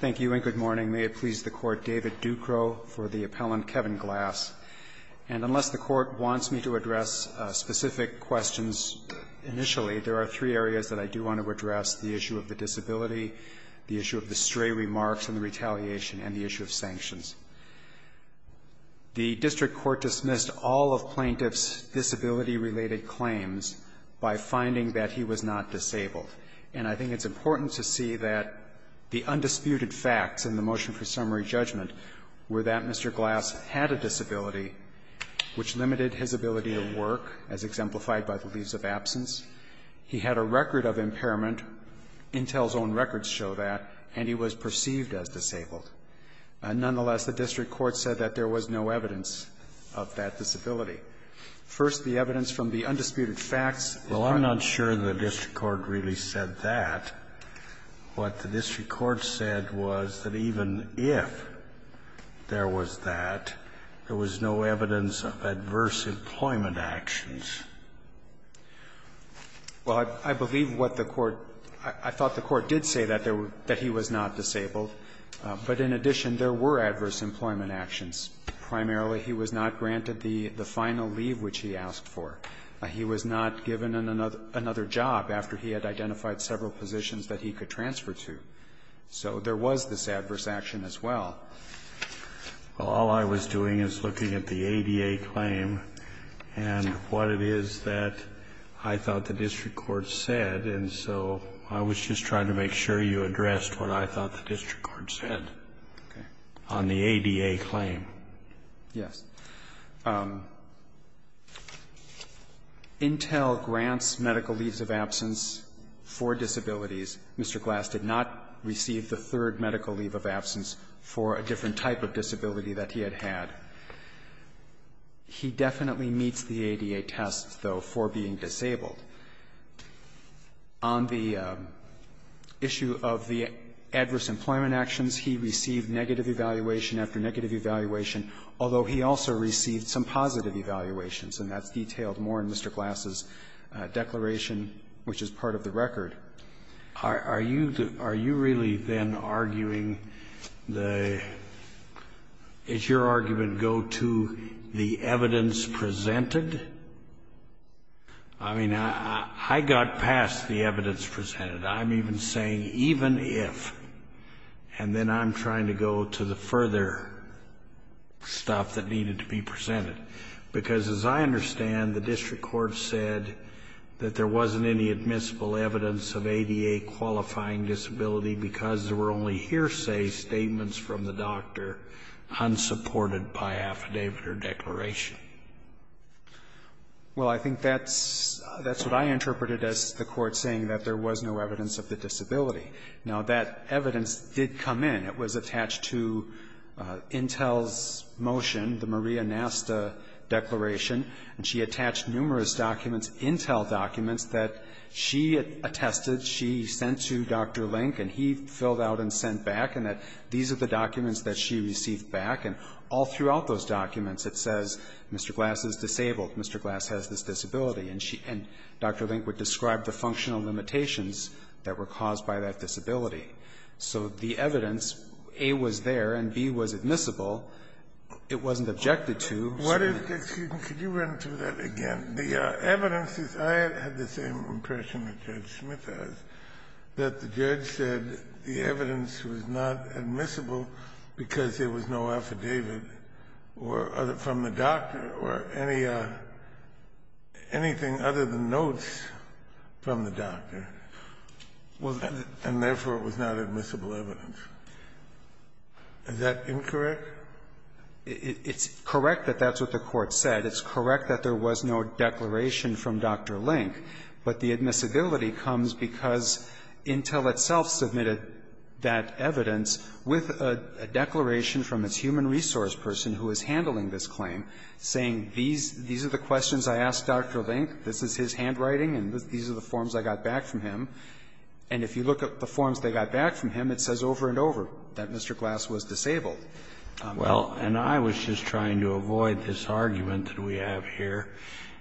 Thank you and good morning. May it please the Court, David Ducro for the appellant Kevin Glass. And unless the Court wants me to address specific questions initially, there are three areas that I do want to address. The issue of the disability, the issue of the stray remarks and the retaliation, and the issue of sanctions. The District Court dismissed all of Plaintiff's disability-related claims by finding that he was not disabled. And I think it's fair to say that the undisputed facts in the motion for summary judgment were that Mr. Glass had a disability, which limited his ability to work, as exemplified by the lease of absence. He had a record of impairment. Intel's own records show that. And he was perceived as disabled. Nonetheless, the District Court said that there was no evidence of that disability. First, the evidence from the undisputed facts is that he was not disabled. The Court said was that even if there was that, there was no evidence of adverse employment actions. Well, I believe what the Court – I thought the Court did say that he was not disabled. But in addition, there were adverse employment actions. Primarily, he was not granted the final leave which he asked for. He was not given another job after he had identified several positions that he could transfer to. So there was this adverse action as well. Well, all I was doing is looking at the ADA claim and what it is that I thought the District Court said. And so I was just trying to make sure you addressed what I thought the District Court said on the ADA claim. Yes. Intel grants medical leaves of absence for disabilities. Mr. Glass did not receive the third medical leave of absence for a different type of disability that he had had. He definitely meets the ADA test, though, for being disabled. On the issue of the adverse employment actions, he received negative evaluation after negative evaluation, although he also received some positive evaluations, and that's detailed more in Mr. Glass's declaration, which is part of the record. Are you really then arguing the – is your argument go to the evidence presented? I mean, I got past the evidence presented. I'm even saying even if, and then I'm trying to go to the further stuff that needed to be presented, because as I understand, the District Court said that there wasn't any admissible evidence of ADA-qualifying disability because there were only hearsay statements from the doctor unsupported by affidavit or declaration. Well, I think that's what I interpreted as the Court saying that there was no evidence of the disability. Now, that evidence did come in. It was attached to Intel's motion, the Maria Nasta Declaration, and she attached numerous documents, Intel documents, that she attested she sent to Dr. Link and he filled out and sent back, and that these are the documents that she received back, and all throughout those documents it says Mr. Glass is disabled, Mr. Glass has this disability, and she – and Dr. Link would describe the functional limitations that were caused by that disability. So the evidence, A, was there, and B, was admissible. It wasn't objected to. What is – excuse me, could you run through that again? The evidence is – I had the same impression that Judge Smith has, that the judge said the evidence was not admissible because there was no affidavit from the doctor or any – anything other than notes from the doctor, and therefore it was not admissible evidence. Is that incorrect? It's correct that that's what the Court said. It's correct that there was no declaration from Dr. Link, but the admissibility comes because Intel itself submitted that evidence with a declaration from its human resource person who is handling this claim, saying these – these are the questions I asked Dr. Link, this is his handwriting, and these are the forms I got back from him. And if you look at the forms they got back from him, it says over and over that Mr. Glass was disabled. Well, and I was just trying to avoid this argument that we have here,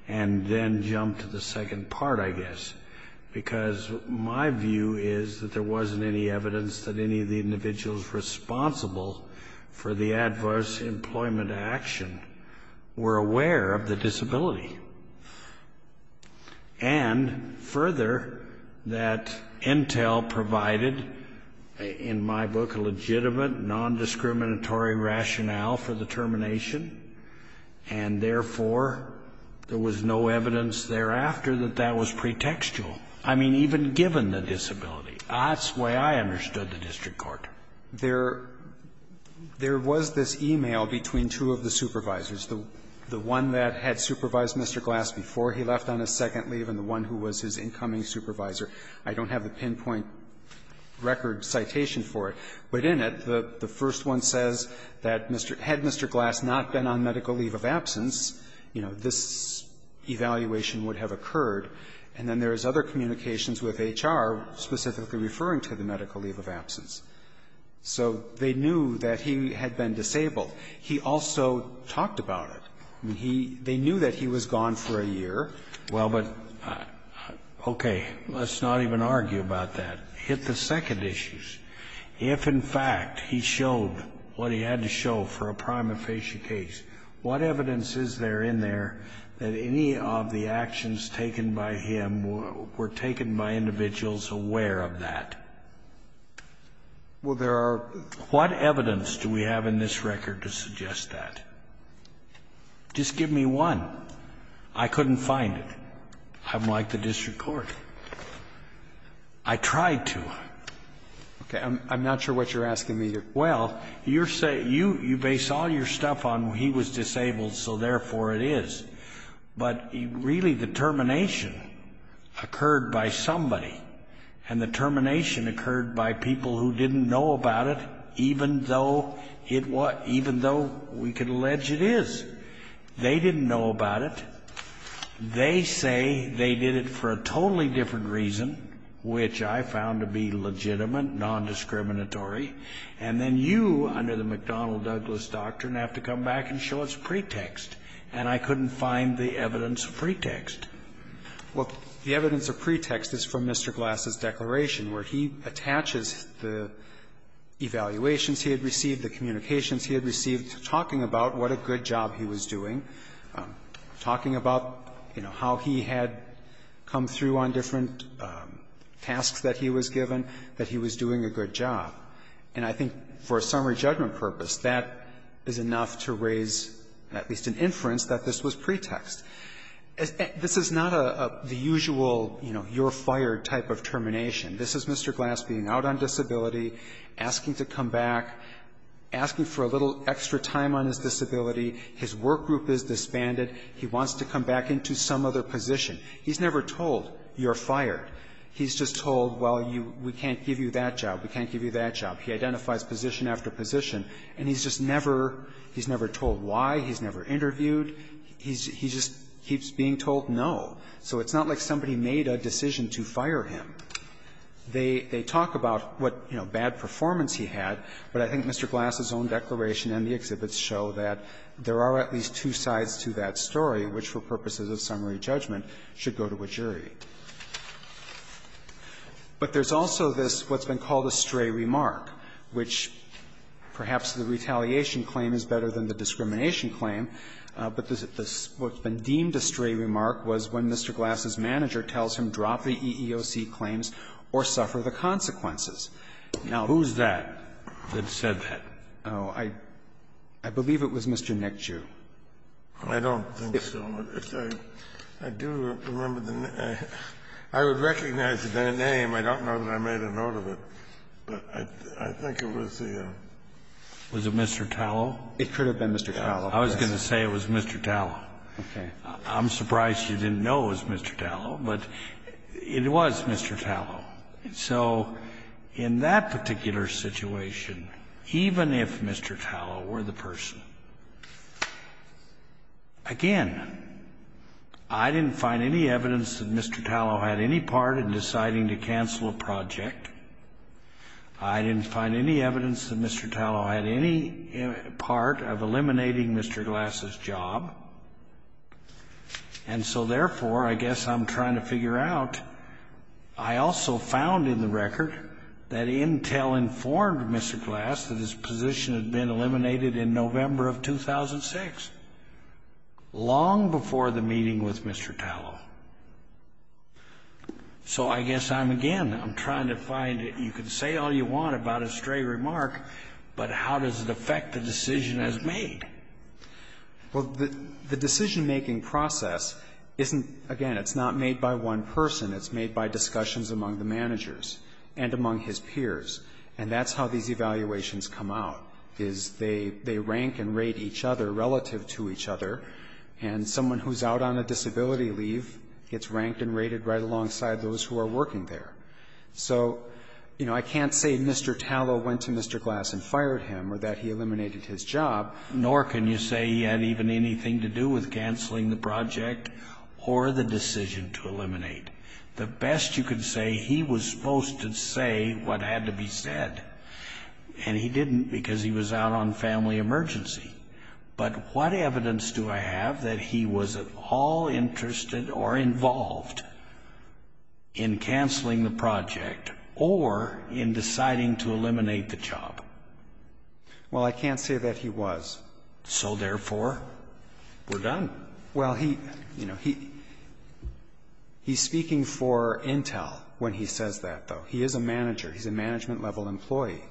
and then jump to the second part, I guess, because my view is that there wasn't any evidence that any of the individuals responsible for the adverse employment action were aware of the disability. And further, that Intel provided, in my book, a legitimate non-discriminatory rationale for the termination, and therefore, there was no evidence thereafter that that was pretextual. I mean, even given the disability. That's the way I understood the district court. There – there was this e-mail between two of the supervisors, the one that had supervised Mr. Glass before he left on his second leave and the one who was his incoming supervisor. I don't have the pinpoint record citation for it, but in it, the first one says that Mr. – had Mr. Glass not been on medical leave of absence, you know, this evaluation would have occurred. And then there is other communications with HR specifically referring to the medical leave of absence. So they knew that he had been disabled. He also talked about it. I mean, he – they knew that he was gone for a year. Well, but, okay, let's not even argue about that. Hit the second issue. If, in fact, he showed what he had to show for a prima facie case, what evidence is there in there that any of the actions taken by him were taken by individuals aware of that? Well, there are – What evidence do we have in this record to suggest that? Just give me one. I couldn't find it. I'm like the district court. I tried to. Okay, I'm not sure what you're asking me here. Well, you're – you base all your stuff on he was disabled, so therefore it is. But really, the termination occurred by somebody. And the termination occurred by people who didn't know about it, even though it was – even though we could allege it is. They didn't know about it. They say they did it for a totally different reason, which I found to be legitimate, nondiscriminatory. And then you, under the McDonnell-Douglas doctrine, have to come back and show its pretext. And I couldn't find the evidence of pretext. Well, the evidence of pretext is from Mr. Glass's declaration, where he attaches the evaluations he had received, the communications he had received, talking about what a good job he was doing, talking about, you know, how he had come through on different tasks that he was given, that he was doing a good job. And I think for a summary judgment purpose, that is enough to raise at least an inference that this was pretext. This is not the usual, you know, you're fired type of termination. This is Mr. Glass being out on disability, asking to come back, asking for a little extra time on his disability. His work group is disbanded. He wants to come back into some other position. He's never told, you're fired. He's just told, well, you – we can't give you that job. We can't give you that job. He identifies position after position. And he's just never – he's never told why. He's never interviewed. He just keeps being told no. So it's not like somebody made a decision to fire him. They talk about what, you know, bad performance he had, but I think Mr. Glass's own declaration and the exhibits show that there are at least two sides to that story, which for purposes of summary judgment should go to a jury. But there's also this, what's been called a stray remark, which perhaps the retaliation claim is better than the discrimination claim, but what's been deemed a stray remark was when Mr. Glass's manager tells him, drop the EEOC claims or suffer the consequences. Now, who's that that said that? Oh, I believe it was Mr. Nick Jew. I don't think so. I do remember the name. I would recognize the name. I don't know that I made a note of it, but I think it was the – Was it Mr. Tallow? It could have been Mr. Tallow. I was going to say it was Mr. Tallow. Okay. I'm surprised you didn't know it was Mr. Tallow, but it was Mr. Tallow. So in that particular situation, even if Mr. Tallow were the person, again, I didn't find any evidence that Mr. Tallow had any part in deciding to cancel a project. I didn't find any evidence that Mr. Tallow had any part of eliminating Mr. Glass's job. And so, therefore, I guess I'm trying to figure out, I also found in the record that Intel informed Mr. Glass that his position had been eliminated in November of 2006, long before the meeting with Mr. Tallow. So I guess I'm, again, I'm trying to find – you can say all you want about a stray remark, but how does it affect the decision as made? Well, the decision-making process isn't – again, it's not made by one person. It's made by discussions among the managers and among his peers, and that's how these evaluations come out, is they rank and rate each other relative to each other, and someone who's out on a disability leave gets ranked and rated right alongside those who are working there. So, you know, I can't say Mr. Tallow went to Mr. Glass and fired him or that he eliminated his job, nor can you say he had even anything to do with canceling the project or the decision to eliminate. The best you could say, he was supposed to say what had to be said, and he didn't because he was out on family emergency. But what evidence do I have that he was at all interested or involved in canceling the project or in deciding to eliminate the job? Well, I can't say that he was. So, therefore, we're done. Well, he, you know, he's speaking for Intel when he says that, though. He is a manager. He's a management-level employee.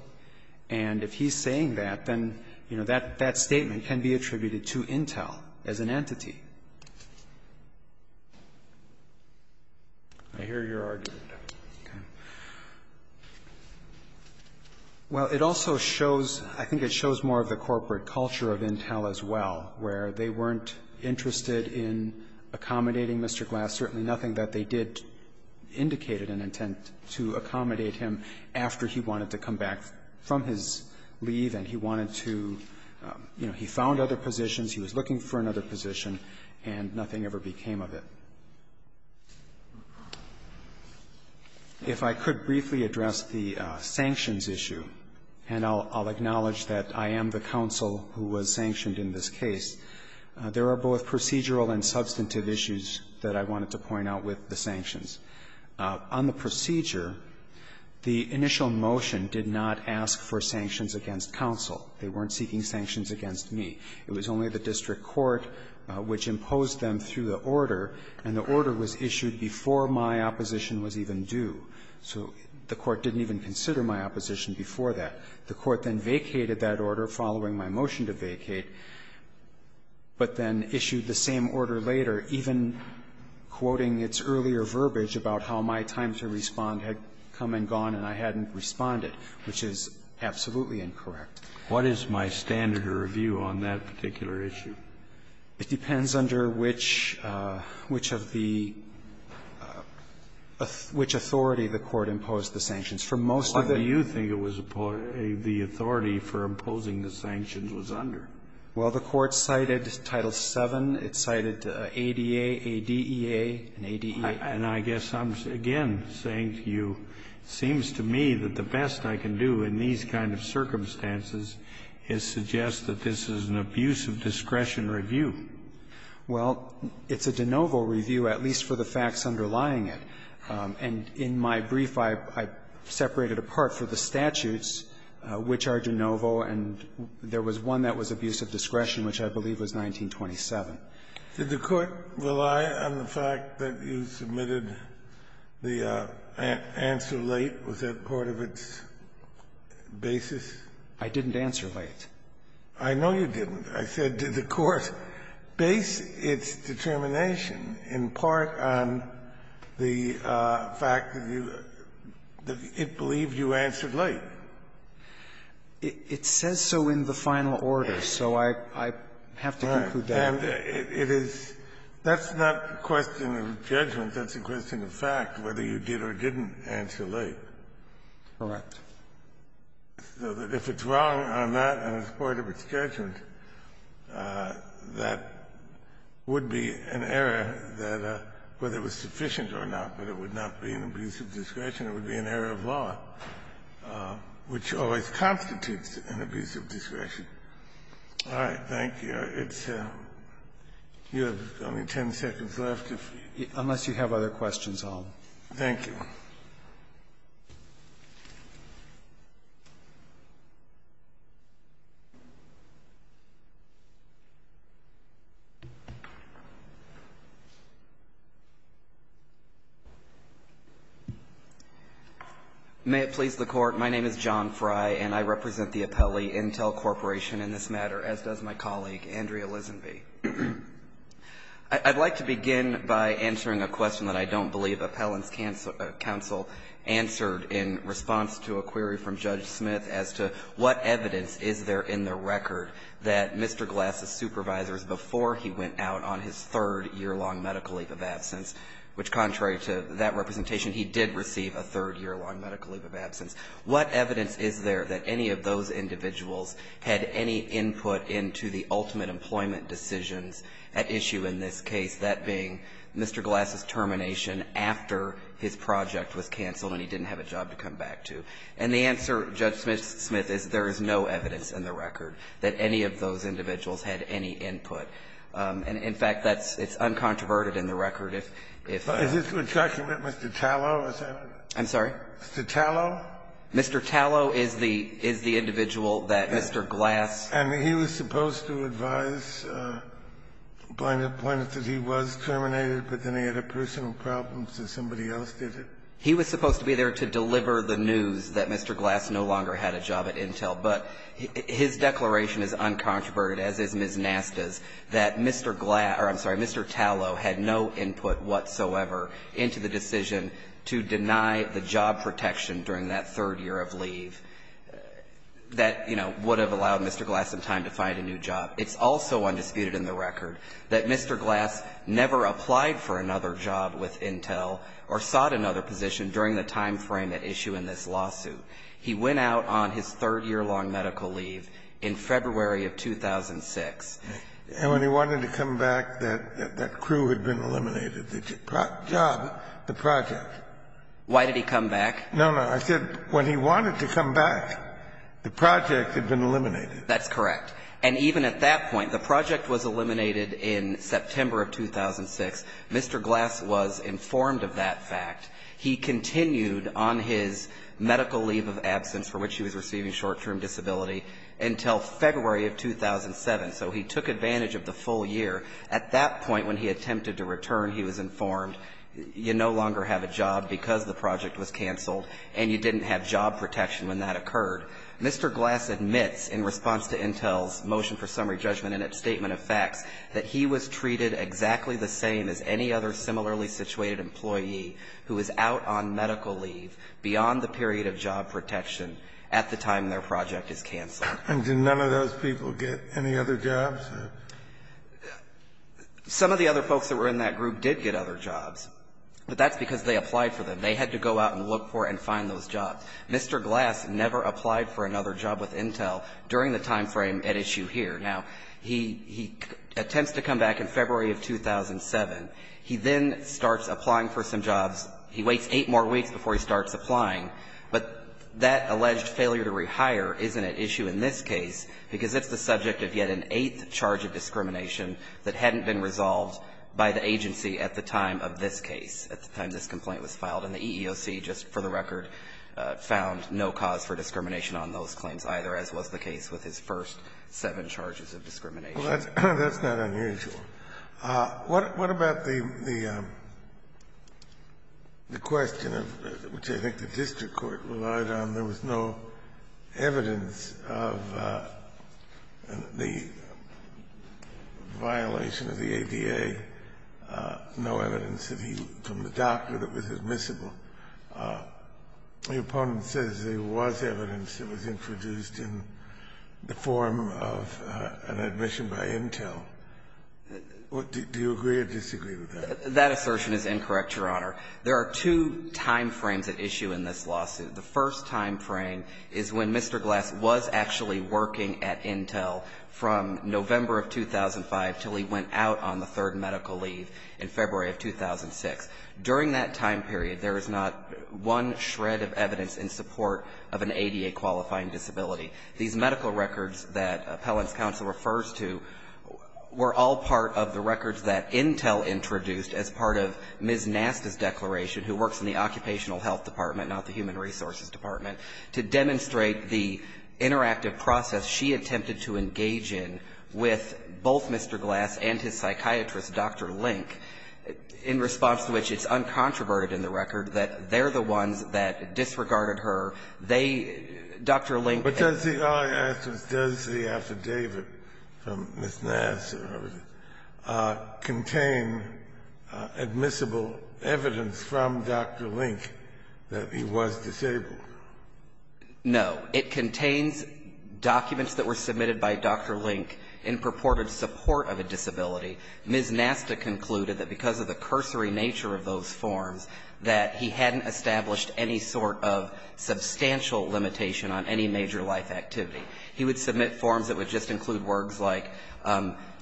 And if he's saying that, then, you know, that statement can be attributed to Intel as an entity. I hear your argument. Okay. Well, it also shows – I think it shows more of the corporate culture of Intel as well, where they weren't interested in accommodating Mr. Glass, certainly nothing that they did indicated an intent to accommodate him after he wanted to come back from his leave and he wanted to, you know, he found other positions, he was looking for another position, and nothing ever became of it. If I could briefly address the sanctions issue, and I'll acknowledge that I am the counsel who was sanctioned in this case, there are both procedural and substantive issues that I wanted to point out with the sanctions. On the procedure, the initial motion did not ask for sanctions against counsel. They weren't seeking sanctions against me. It was only the district court which imposed them through the order, and the order was issued before my opposition was even due. So the court didn't even consider my opposition before that. The court then vacated that order following my motion to vacate, but then issued the same order later, even quoting its earlier verbiage about how my time to respond had come and gone and I hadn't responded, which is absolutely incorrect. What is my standard of review on that particular issue? It depends under which of the – which authority the court imposed the sanctions. For most of the – Kennedy, you think it was the authority for imposing the sanctions was under? Well, the court cited Title VII. It cited ADA, ADEA, and ADEA. And I guess I'm, again, saying to you, it seems to me that the best I can do in these kind of circumstances is suggest that this is an abuse of discretion review. Well, it's a de novo review, at least for the facts underlying it. And in my brief, I separated apart for the statutes, which are de novo, and there was one that was abuse of discretion, which I believe was 1927. Did the court rely on the fact that you submitted the answer late? Was that part of its basis? I didn't answer late. I know you didn't. I said, did the court base its determination in part on the fact that you – that it believed you answered late? It says so in the final order, so I have to conclude that. And it is – that's not a question of judgment. That's a question of fact, whether you did or didn't answer late. Correct. So that if it's wrong on that, and it's part of its judgment, that would be an error that, whether it was sufficient or not, that it would not be an abuse of discretion. It would be an error of law, which always constitutes an abuse of discretion. All right. Thank you. It's – you have only ten seconds left, if you – Unless you have other questions, I'll – Thank you. May it please the Court. My name is John Frye, and I represent the Appellee Intel Corporation in this matter, as does my colleague, Andrea Lisenby. I'd like to begin by answering a question that I don't believe appellants counsel answered in response to a query from Judge Smith as to what evidence is there in the record that Mr. Glass's supervisors, before he went out on his third year-long medical leave of absence, which, contrary to that representation, he did receive a third year-long medical leave of absence. What evidence is there that any of those individuals had any input into the ultimate employment decisions at issue in this case, that being Mr. Glass's termination after his project was canceled and he didn't have a job to come back to? And the answer, Judge Smith, is there is no evidence in the record that any of those individuals had any input. And, in fact, that's – it's uncontroverted in the record if – if – Is this a document Mr. Tallow has had? I'm sorry? Mr. Tallow? Mr. Tallow is the – is the individual that Mr. Glass – And he was supposed to advise plaintiff that he was terminated, but then he had a personal problem, so somebody else did it? He was supposed to be there to deliver the news that Mr. Glass no longer had a job at Intel, but his declaration is uncontroverted, as is Ms. Nasta's, that Mr. Glass – or, I'm sorry, Mr. Tallow had no input whatsoever into the decision to deny the job protection during that third year of leave. That, you know, would have allowed Mr. Glass some time to find a new job. It's also undisputed in the record that Mr. Glass never applied for another job with Intel or sought another position during the time frame at issue in this lawsuit. He went out on his third-year-long medical leave in February of 2006. And when he wanted to come back, that crew had been eliminated, the job, the project. Why did he come back? No, no. I said when he wanted to come back, the project had been eliminated. That's correct. And even at that point, the project was eliminated in September of 2006. Mr. Glass was informed of that fact. He continued on his medical leave of absence, for which he was receiving short-term disability, until February of 2007. So he took advantage of the full year. At that point, when he attempted to return, he was informed, you no longer have a job because the project was canceled and you didn't have job protection when that occurred. Mr. Glass admits, in response to Intel's motion for summary judgment and its statement of facts, that he was treated exactly the same as any other similarly situated employee who is out on medical leave beyond the period of job protection at the time their project is canceled. And did none of those people get any other jobs? Some of the other folks that were in that group did get other jobs. But that's because they applied for them. They had to go out and look for and find those jobs. Mr. Glass never applied for another job with Intel during the time frame at issue here. Now, he attempts to come back in February of 2007. He then starts applying for some jobs. He waits eight more weeks before he starts applying. But that alleged failure to rehire isn't at issue in this case because it's the subject of yet an eighth charge of discrimination that hadn't been resolved by the agency at the time of this case, at the time this complaint was filed. And the EEOC, just for the record, found no cause for discrimination on those claims either, as was the case with his first seven charges of discrimination. That's not unusual. What about the question, which I think the district court relied on, there was no evidence of the violation of the ADA, no evidence from the doctor that it was admissible. The opponent says there was evidence that was introduced in the form of an admission by Intel. Do you agree or disagree with that? That assertion is incorrect, Your Honor. There are two time frames at issue in this lawsuit. The first time frame is when Mr. Glass was actually working at Intel from November of 2005 until he went out on the third medical leave in February of 2006. During that time period, there is not one shred of evidence in support of an ADA-qualifying disability. These medical records that Appellant's counsel refers to were all part of the records that Intel introduced as part of Ms. Nasta's declaration, who works in the Occupational Health Department, not the Human Resources Department, to demonstrate the interactive process she attempted to engage in with both Mr. Glass and his psychiatrist, Dr. Link, in response to which it's uncontroverted in the record that they're the ones that disregarded her. They, Dr. Link and Mr. Glass were the ones that disregarded her. But does the, all I ask is does the affidavit from Ms. Nasta or whoever it is, contain admissible evidence from Dr. Link that he was disabled? No. It contains documents that were submitted by Dr. Link in purported support of a disability. Ms. Nasta concluded that because of the cursory nature of those forms, that he hadn't established any sort of substantial limitation on any major life activity. He would submit forms that would just include words like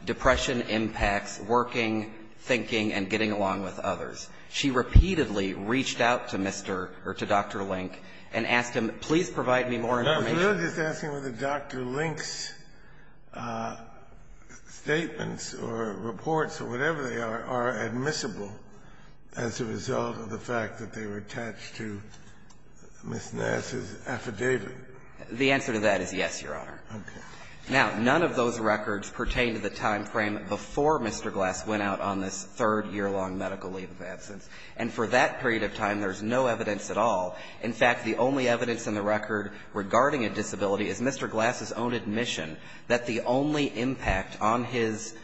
depression impacts, working, thinking, and getting along with others. She repeatedly reached out to Mr. or to Dr. Link and asked him, please provide me more information. So you're just asking whether Dr. Link's statements or reports or whatever they are are admissible as a result of the fact that they were attached to Ms. Nasta's affidavit? The answer to that is yes, Your Honor. Now, none of those records pertain to the time frame before Mr. Glass went out on this third year-long medical leave of absence. And for that period of time, there's no evidence at all. In fact, the only evidence in the record regarding a disability is Mr. Glass's own admission that the only impact on his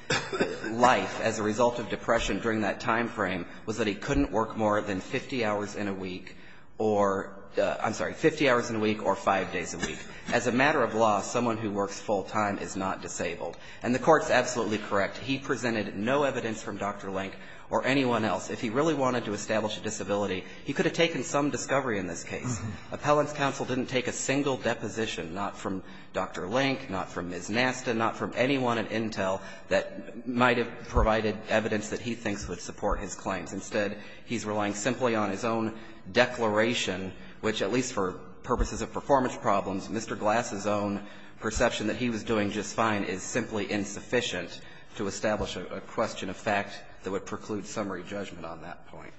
life as a result of depression during that time frame was that he couldn't work more than 50 hours in a week or, I'm sorry, 50 hours in a week or five days a week. As a matter of law, someone who works full-time is not disabled. And the Court's absolutely correct. He presented no evidence from Dr. Link or anyone else. If he really wanted to establish a disability, he could have taken some discovery in this case. Appellant's counsel didn't take a single deposition, not from Dr. Link, not from Ms. Nasta, not from anyone at Intel that might have provided evidence that he thinks would support his claims. Instead, he's relying simply on his own declaration, which, at least for purposes of performance problems, Mr. Glass's own perception that he was doing just fine is simply insufficient to establish a question of fact that would preclude summary judgment on that point.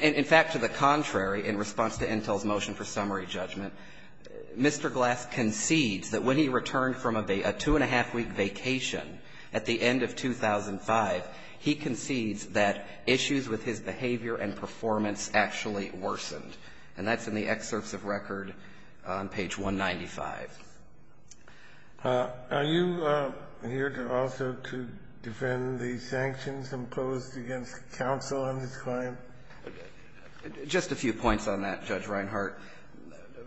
In fact, to the contrary, in response to Intel's motion for summary judgment, Mr. Glass concedes that when he returned from a two-and-a-half-week vacation at the end of 2005, he concedes that issues with his behavior and performance actually worsened. And that's in the excerpts of record on page 195. Are you here to also to defend the sanctions imposed against counsel on this claim? Just a few points on that, Judge Reinhart.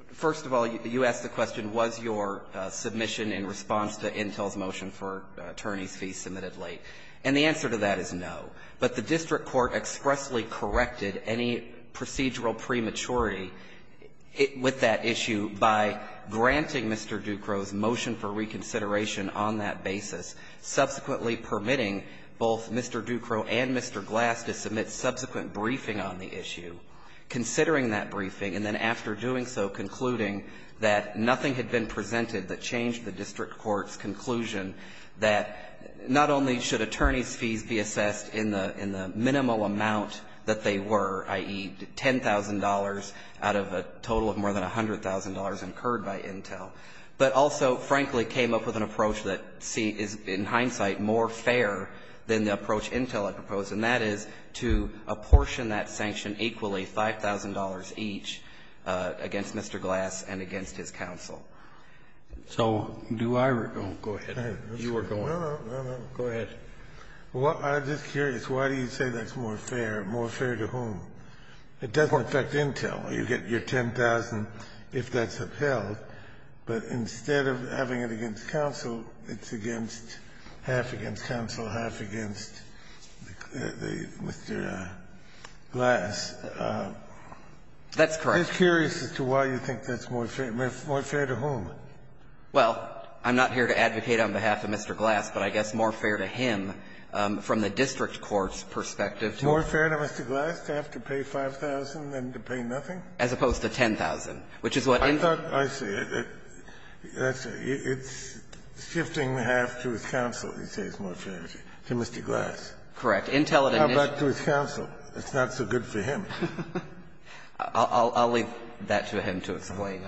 First of all, you asked the question, was your submission in response to Intel's motion for attorneys' fees submitted late, and the answer to that is no. But the district court expressly corrected any procedural prematurity with that issue by granting Mr. Ducroix's motion for reconsideration on that basis, subsequently permitting both Mr. Ducroix and Mr. Glass to submit subsequent briefing on the issue, considering that briefing, and then after doing so, concluding that nothing had been changed in the motion, that not only should attorneys' fees be assessed in the minimal amount that they were, i.e., $10,000 out of a total of more than $100,000 incurred by Intel, but also, frankly, came up with an approach that is, in hindsight, more fair than the approach Intel had proposed, and that is to apportion that sanction equally, $5,000 each, against Mr. Glass and against his counsel. So do I go ahead? You are going. Go ahead. Kennedy, I'm just curious, why do you say that's more fair? More fair to whom? It doesn't affect Intel. You get your $10,000 if that's upheld, but instead of having it against counsel, it's against half against counsel, half against Mr. Glass. That's correct. I'm just curious as to why you think that's more fair. More fair to whom? Well, I'm not here to advocate on behalf of Mr. Glass, but I guess more fair to him from the district court's perspective. More fair to Mr. Glass to have to pay $5,000 than to pay nothing? As opposed to $10,000, which is what Intel. I thought, I see. It's shifting half to his counsel, he says, more fair to Mr. Glass. Correct. Intel and then it's. How about to his counsel? It's not so good for him. I'll leave that to him to explain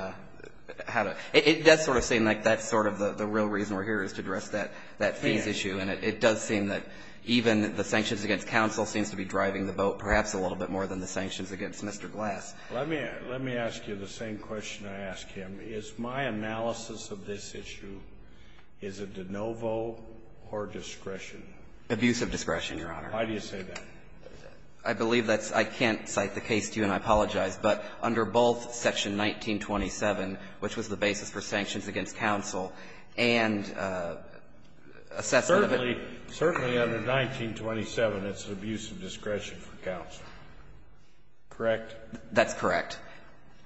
how to. It does sort of seem like that's sort of the real reason we're here is to address that fees issue. And it does seem that even the sanctions against counsel seems to be driving the boat perhaps a little bit more than the sanctions against Mr. Glass. Let me ask you the same question I asked him. Is my analysis of this issue, is it de novo or discretion? Abusive discretion, Your Honor. Why do you say that? I believe that's – I can't cite the case to you and I apologize, but under both section 1927, which was the basis for sanctions against counsel, and assessment of it. Certainly, under 1927, it's an abusive discretion for counsel, correct? That's correct.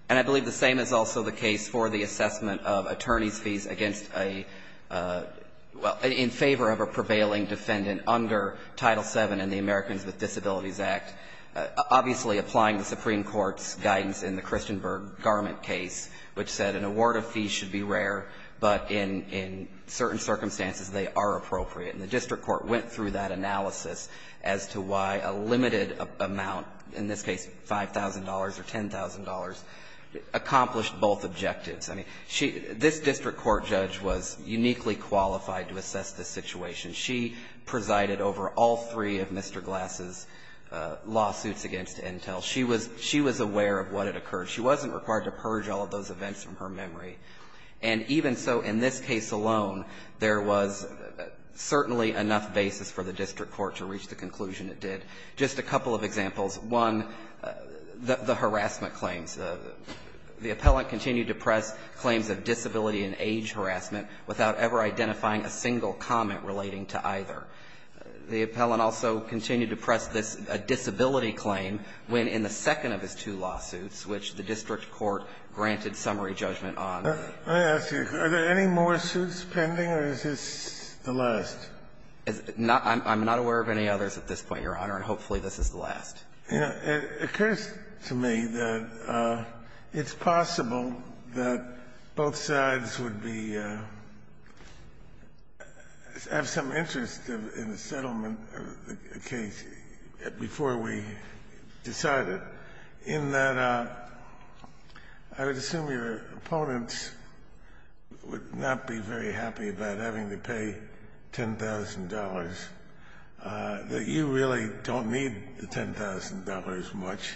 And I believe the same is also the case for the assessment of attorney's fees against a – well, in favor of a prevailing defendant under Title VII in the Americans with Disabilities Act, obviously applying the Supreme Court's guidance in the Christenberg garment case, which said an award of fees should be rare, but in certain circumstances, they are appropriate. And the district court went through that analysis as to why a limited amount, in this case $5,000 or $10,000, accomplished both objectives. I mean, she – this district court judge was uniquely qualified to assess this situation. She presided over all three of Mr. Glass's lawsuits against Entel. She was – she was aware of what had occurred. She wasn't required to purge all of those events from her memory. And even so, in this case alone, there was certainly enough basis for the district court to reach the conclusion it did. Just a couple of examples. One, the harassment claims. The appellant continued to press claims of disability and age harassment without ever identifying a single comment relating to either. The appellant also continued to press this disability claim when, in the second of his two lawsuits, which the district court granted summary judgment on. I ask you, are there any more suits pending, or is this the last? I'm not aware of any others at this point, Your Honor, and hopefully this is the last. It occurs to me that it's possible that both sides would be – have some interest in the settlement of the case before we decide it, in that I would assume your opponents would not be very happy about having to pay $10,000, that you really don't need the $10,000 much.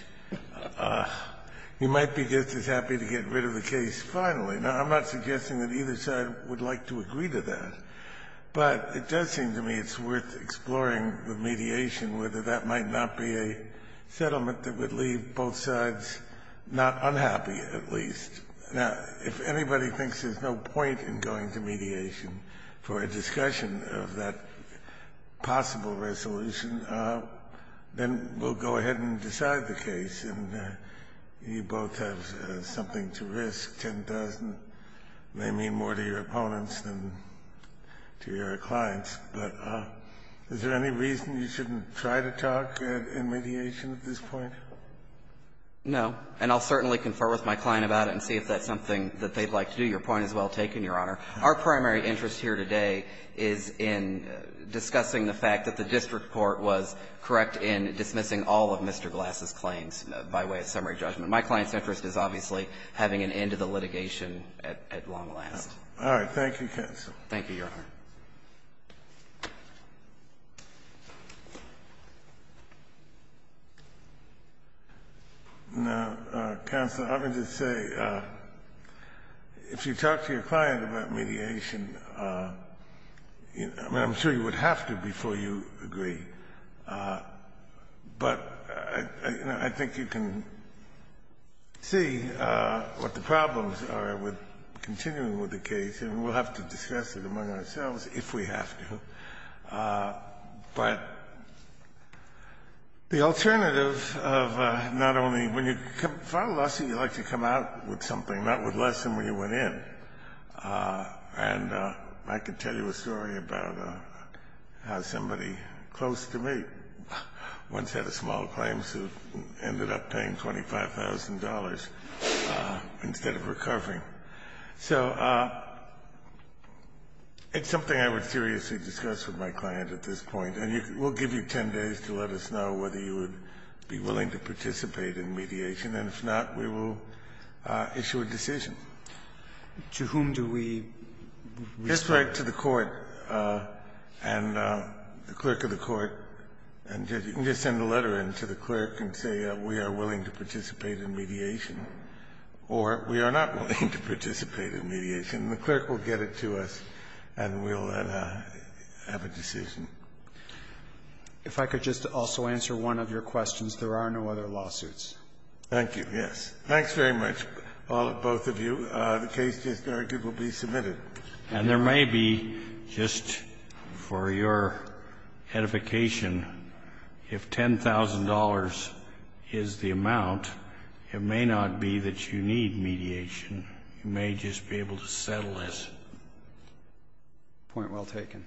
You might be just as happy to get rid of the case finally. Now, I'm not suggesting that either side would like to agree to that, but it does seem to me it's worth exploring with mediation whether that might not be a settlement that would leave both sides not unhappy, at least. Now, if anybody thinks there's no point in going to mediation for a discussion of that possible resolution, then we'll go ahead and decide the case, and you both have something to risk. $10,000 may mean more to your opponents than to your clients. But is there any reason you shouldn't try to talk in mediation at this point? No. And I'll certainly confer with my client about it and see if that's something that they'd like to do. Your point is well taken, Your Honor. Our primary interest here today is in discussing the fact that the district court was correct in dismissing all of Mr. Glass's claims by way of summary judgment. My client's interest is obviously having an end to the litigation at long last. All right. Thank you, counsel. Thank you, Your Honor. Now, counsel, I'm going to say, if you talk to your client about mediation, I mean, I'm sure you would have to before you agree. But I think you can see what the problems are with continuing with the case, and we'll have to discuss it among ourselves if we have to. But the alternative of not only when you file a lawsuit, you like to come out with something, not with less than what you went in. And I can tell you a story about how somebody close to me once had a small claim suit and ended up paying $25,000 instead of recovering. So it's something I would seriously discuss with my client at this point. And we'll give you 10 days to let us know whether you would be willing to participate in mediation. And if not, we will issue a decision. To whom do we respond? Just write to the court and the clerk of the court, and you can just send a letter in to the clerk and say we are willing to participate in mediation, or we are not willing to participate in mediation. And the clerk will get it to us, and we'll have a decision. If I could just also answer one of your questions, there are no other lawsuits. Thank you. Yes. Thanks very much, both of you. The case, it is argued, will be submitted. And there may be, just for your edification, if $10,000 is the amount, it may not be that you need mediation, you may just be able to settle this. Point well taken.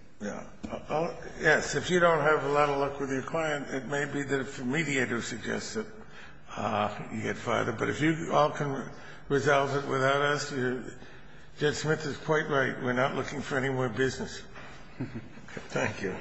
Yes. If you don't have a lot of luck with your client, it may be that if the mediator suggests that you get further. But if you all can resolve it without us, Judge Smith is quite right. We're not looking for any more business. Thank you. Thank you.